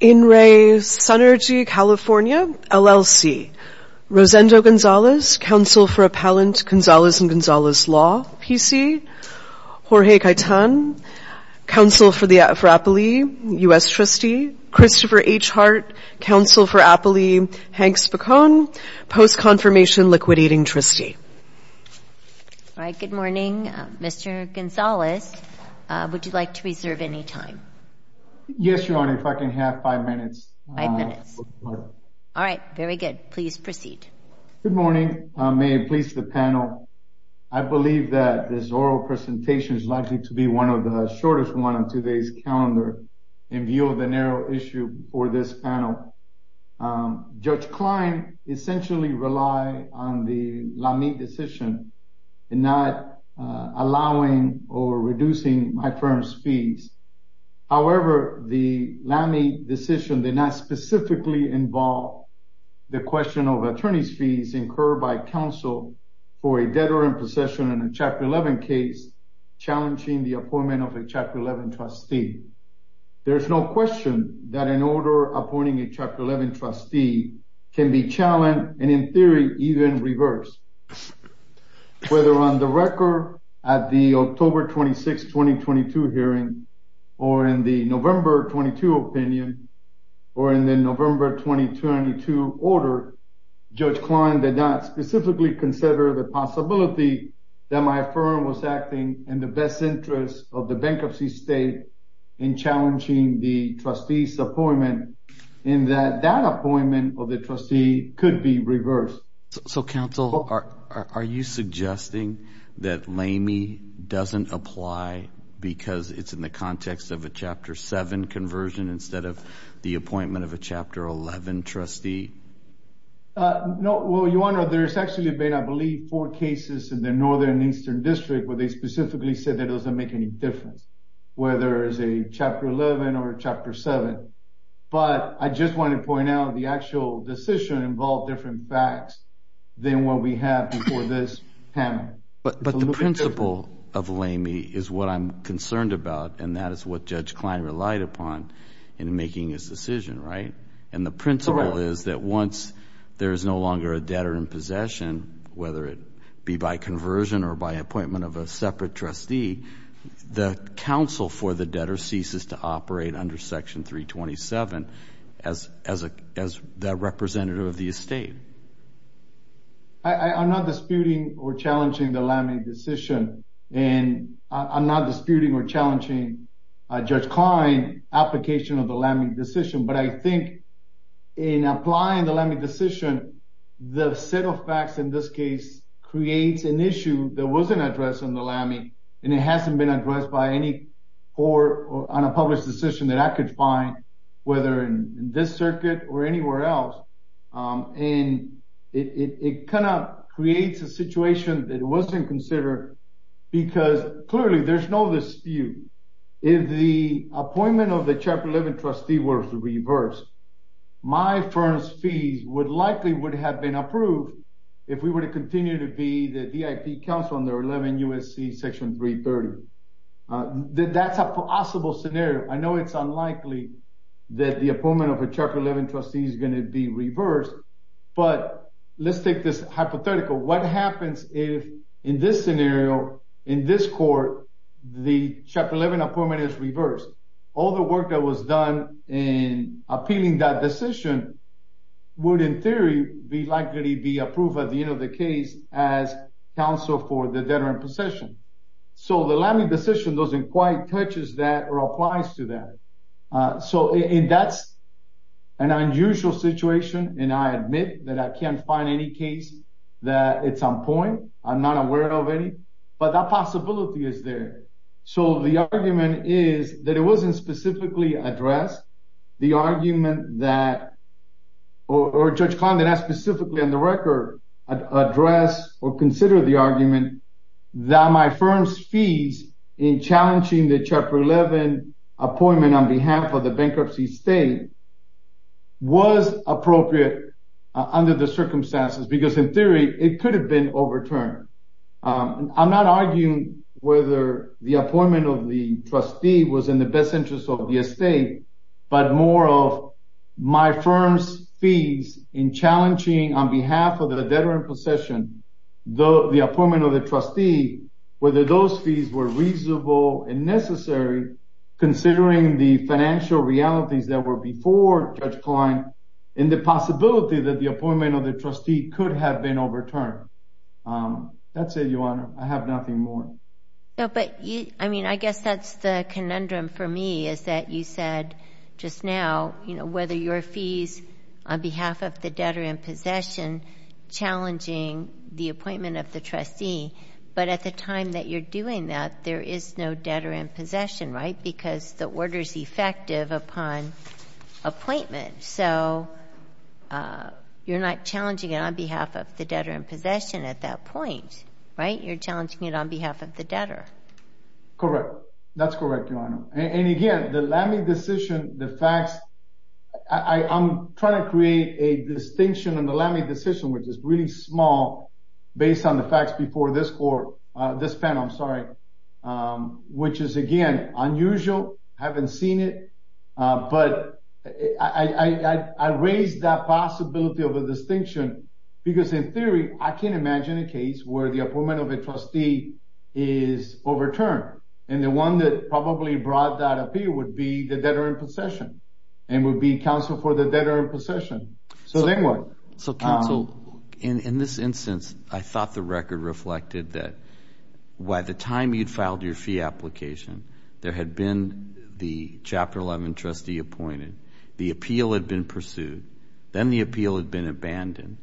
In re Sunergy California LLC, Rosendo Gonzalez, Counsel for Appellant Gonzalez and Gonzalez Law, PC, Jorge Caetan, Counsel for Appellee, U.S. Trustee, Christopher H. Hart, Counsel for Appellee, Hank Spicone, Post Confirmation Liquidating Trustee. All right, good morning, Mr. Gonzalez, would you like to reserve any time? Yes, Your Honor, if I can have five minutes. Five minutes. All right, very good. Please proceed. Good morning. May it please the panel. I believe that this oral presentation is likely to be one of the shortest one on today's calendar in view of the narrow issue for this panel. Judge Klein essentially rely on the LAMI decision and not allowing or reducing my firm's fees. However, the LAMI decision did not specifically involve the question of attorney's fees incurred by counsel for a debtor in possession in a Chapter 11 case, challenging the appointment of a Chapter 11 trustee. There's no question that an order appointing a Chapter 11 trustee can be challenged and in theory even reversed. Whether on the record at the October 26, 2022 hearing or in the November 22 opinion or in the November 2022 order, Judge Klein did not specifically consider the possibility that my firm was acting in the best interest of the bankruptcy state in challenging the trustee's appointment in that that appointment of the trustee could be reversed. So counsel, are you suggesting that LAMI doesn't apply because it's in the context of a Chapter 7 conversion instead of the appointment of a Chapter 11 trustee? No, well, your honor, there's actually been, I believe, four cases in the Northern Eastern District where they specifically said that doesn't make any difference, whether it's a Chapter 11 or Chapter 7. But I just want to point out the actual decision involved different facts than what we have before this panel. But the principle of LAMI is what I'm concerned about, and that is what Judge Klein relied upon in making his decision, right? And the principle is that once there is no longer a debtor in possession, whether it be by conversion or by appointment of a separate trustee, the counsel for the debtor ceases to operate under Section 327 as the representative of the estate. I'm not disputing or challenging the LAMI decision, and I'm not disputing or challenging Judge Klein's application of the LAMI decision, but I think in applying the LAMI decision, the set of facts in this case creates an issue that wasn't addressed in the LAMI, and it hasn't been addressed by any court or on a published decision that I could find, whether in this circuit or anywhere else. And it kind of creates a situation that wasn't considered because, clearly, there's no dispute. If the appointment of the Chapter 11 trustee were to reverse, my firm's fees would likely would have been approved if we were to continue to be the VIP counsel under 11 USC Section 330. That's a possible scenario. I know it's unlikely that the appointment of a Chapter 11 trustee is going to be reversed, but let's take this hypothetical. What happens if, in this scenario, in this court, the Chapter 11 appointment is reversed? All the work that was done in appealing that decision would, in theory, be likely to be approved at the end of the case as counsel for the debtor in possession. So the LAMI decision doesn't quite touch that or applies to that. So that's an unusual situation, and I admit that I can't find any case that it's on point. I'm not aware of any, but that possibility is there. So the argument is that it wasn't specifically addressed. The argument that, or Judge Condon, as specifically on the record, addressed or considered the argument that my firm's fees in challenging the Chapter 11 appointment on behalf of the bankruptcy state was appropriate under the circumstances, because, in theory, it could have been overturned. I'm not arguing whether the appointment of the trustee was in the best interest of the estate, but more of my firm's fees in challenging on behalf of the debtor in possession the appointment of the trustee, whether those fees were reasonable and necessary, considering the financial realities that were before Judge Klein, and the possibility that the appointment of the trustee could have been overturned. That's it, Your Honor. I have nothing more. No, but I mean, I guess that's the conundrum for me, is that you said just now, you know, whether your fees on behalf of the debtor in possession challenging the appointment of the trustee, but at the time that you're doing that, there is no debtor in possession, right? Because the order's effective upon appointment, so you're not challenging it on behalf of the debtor in possession at that point, right? You're challenging it on behalf of the debtor. Correct. That's correct, Your Honor. And again, the LAMI decision, the facts, I'm trying to create a distinction in the LAMI decision, which is really small, based on the facts before this panel, which is, again, unusual, I haven't seen it, but I raised that possibility of a distinction, because in theory, I can't imagine a case where the appointment of a trustee is overturned, and the one that probably brought that up here would be the debtor in possession, and would be counsel for the debtor in possession. So then what? So, counsel, in this instance, I thought the record reflected that by the time you'd filed your fee application, there had been the Chapter 11 trustee appointed, the appeal had been pursued, then the appeal had been abandoned,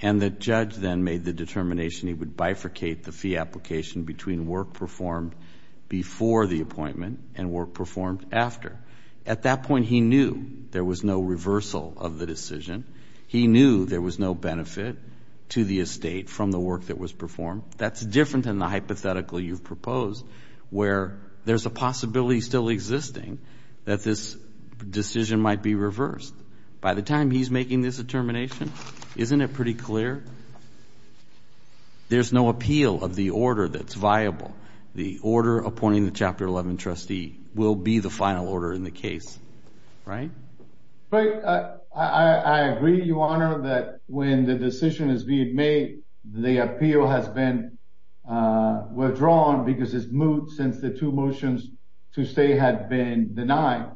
and the judge then made the determination he would bifurcate the fee application between work performed before the appointment and work performed after. At that point, he knew there was no reversal of the decision. He knew there was no benefit to the estate from the work that was performed. That's different than the hypothetical you've proposed, where there's a possibility still existing that this decision might be reversed. By the time he's making this determination, isn't it pretty clear? The order appointing the Chapter 11 trustee will be the final order in the case, right? Right. I agree, Your Honor, that when the decision is being made, the appeal has been withdrawn because it's moved since the two motions to stay had been denied.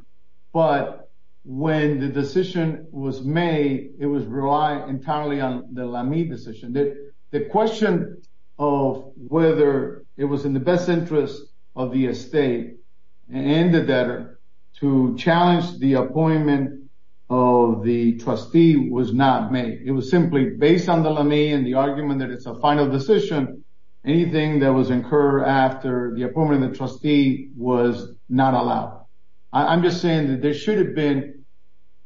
But when the decision was made, it was relied entirely on the Lame decision. The question of whether it was in the best interest of the estate and the debtor to challenge the appointment of the trustee was not made. It was simply based on the Lame and the argument that it's a final decision. Anything that was incurred after the appointment of the trustee was not allowed. I'm just saying that there should have been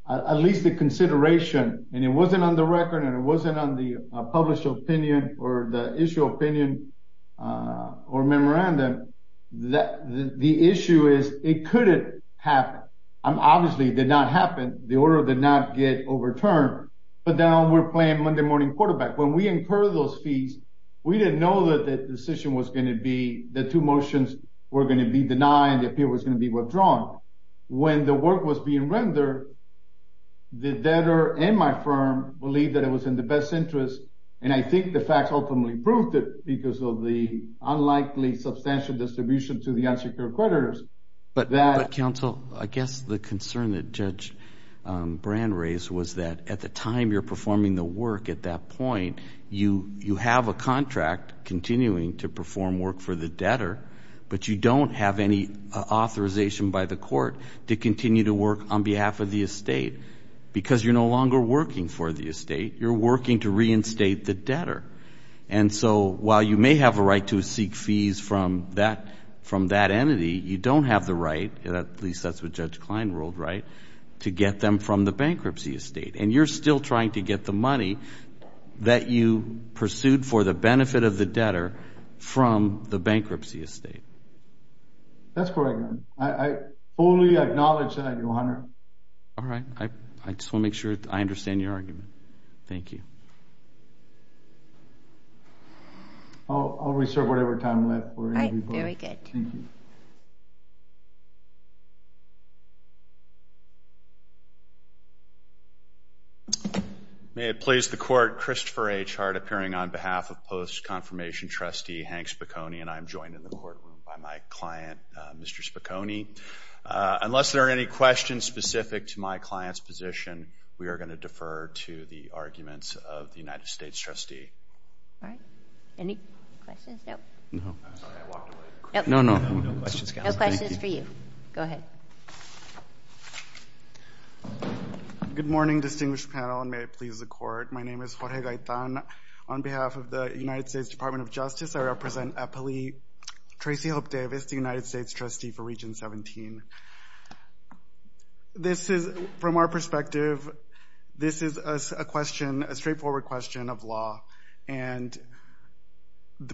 at least a consideration, and it wasn't on the record, and it wasn't on the published opinion or the issue opinion or memorandum, that the issue is it couldn't happen. Obviously, it did not happen. The order did not get overturned, but now we're playing Monday morning quarterback. When we incur those fees, we didn't know that the decision was going to be, the two motions were going to be denied, the appeal was going to be withdrawn. When the work was being rendered, the debtor and my firm believed that it was in the best interest, and I think the facts ultimately proved it because of the unlikely substantial distribution to the unsecured creditors. But counsel, I guess the concern that Judge Brand raised was that at the time you're performing the work at that point, you have a contract continuing to perform work for the debtor, but you don't have any authorization by the court to continue to work on behalf of the estate because you're no longer working for the estate. You're working to reinstate the debtor. And so while you may have a right to seek fees from that entity, you don't have the right, at least that's what Judge Klein ruled right, to get them from the bankruptcy estate. And you're still trying to get the money that you pursued for the benefit of the debtor from the bankruptcy estate. That's correct, Your Honor. I fully acknowledge that, Your Honor. All right. I just want to make sure I understand your argument. Thank you. I'll reserve whatever time left for anybody. All right. Very good. Thank you. May it please the Court, Christopher H. Hart appearing on behalf of post-confirmation trustee Hank Spicconi, and I am joined in the courtroom by my client, Mr. Spicconi. Unless there are any questions specific to my client's position, we are going to defer to the arguments of the United States trustee. All right. Any questions? No. No. I'm sorry. I walked away. No, no. No questions. No questions for you. Go ahead. Good morning, distinguished panel, and may it please the Court. My name is Jorge Gaetan. On behalf of the United States Department of Justice, I represent Eppley Tracey Hope Davis, the United States trustee for Region 17. This is, from our perspective, this is a question, a straightforward question of law, and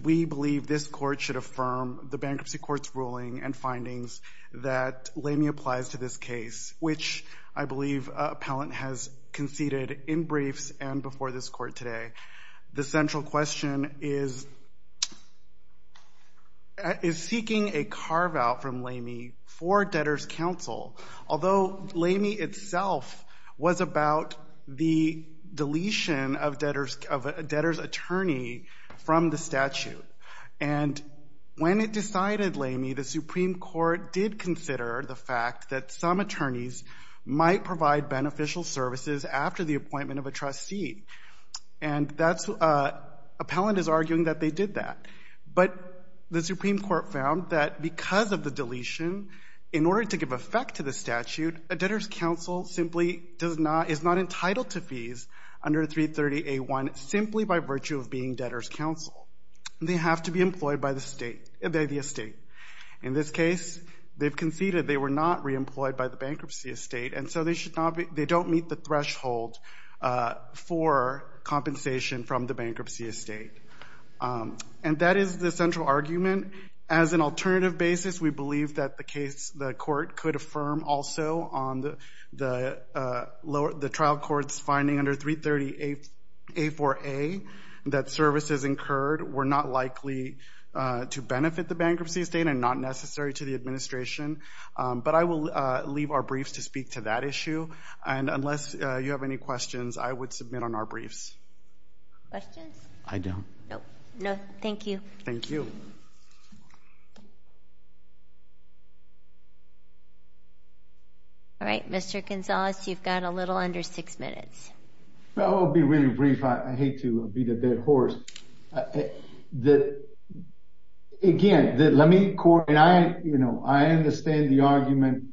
we believe this court should affirm the bankruptcy court's ruling and findings that Lamy applies to this case, which I believe appellant has conceded in briefs and before this court today. The central question is, is seeking a carve-out from Lamy for debtor's counsel, although Lamy itself was about the deletion of a debtor's attorney from the statute. And when it decided Lamy, the Supreme Court did consider the fact that some attorneys might provide beneficial services after the appointment of a trustee. And that's, appellant is arguing that they did that. But the Supreme Court found that because of the deletion, in order to give effect to the statute, a debtor's counsel simply does not, is not entitled to fees under 330A1 simply by virtue of being debtor's counsel. They have to be employed by the state, by the estate. In this case, they've conceded they were not re-employed by the bankruptcy estate, and so they should not be, they don't meet the threshold for compensation from the bankruptcy estate. And that is the central argument. As an alternative basis, we believe that the case, the court could affirm also on the trial court's finding under 330A4A, that services incurred were not likely to benefit the bankruptcy estate and not necessary to the administration. But I will leave our briefs to speak to that issue. And unless you have any questions, I would submit on our briefs. Questions? I don't. No. No, thank you. Thank you. All right, Mr. Gonzalez, you've got a little under six minutes. Well, I'll be really brief. I hate to beat a dead horse. That, again, let me, you know, I understand the argument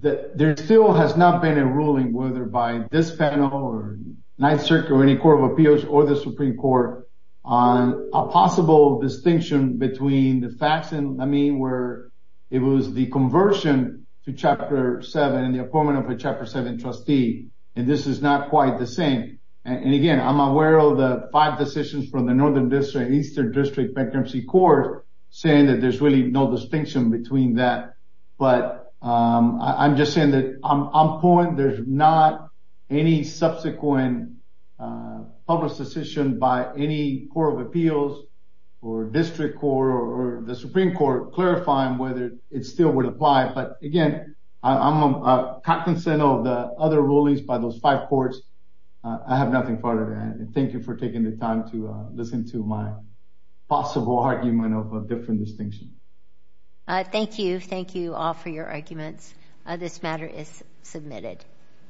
that there still has not been a ruling, whether by this panel or Ninth Circuit or any court of appeals or the Supreme Court, on a possible distinction between the facts and, I mean, where it was the conversion to Chapter 7 and the appointment of a Chapter 7 trustee. And this is not quite the same. And again, I'm aware of the five decisions from the Northern District, Eastern District Bankruptcy Court saying that there's really no distinction between that. But I'm just saying that I'm on point. There's not any subsequent public decision by any court of appeals or district court or the Supreme Court clarifying whether it still would apply. But again, I'm cognizant of the other rulings by those five courts. I have nothing further to add. And thank you for taking the time to listen to my possible argument of a different distinction. Thank you. Thank you all for your arguments. This matter is submitted.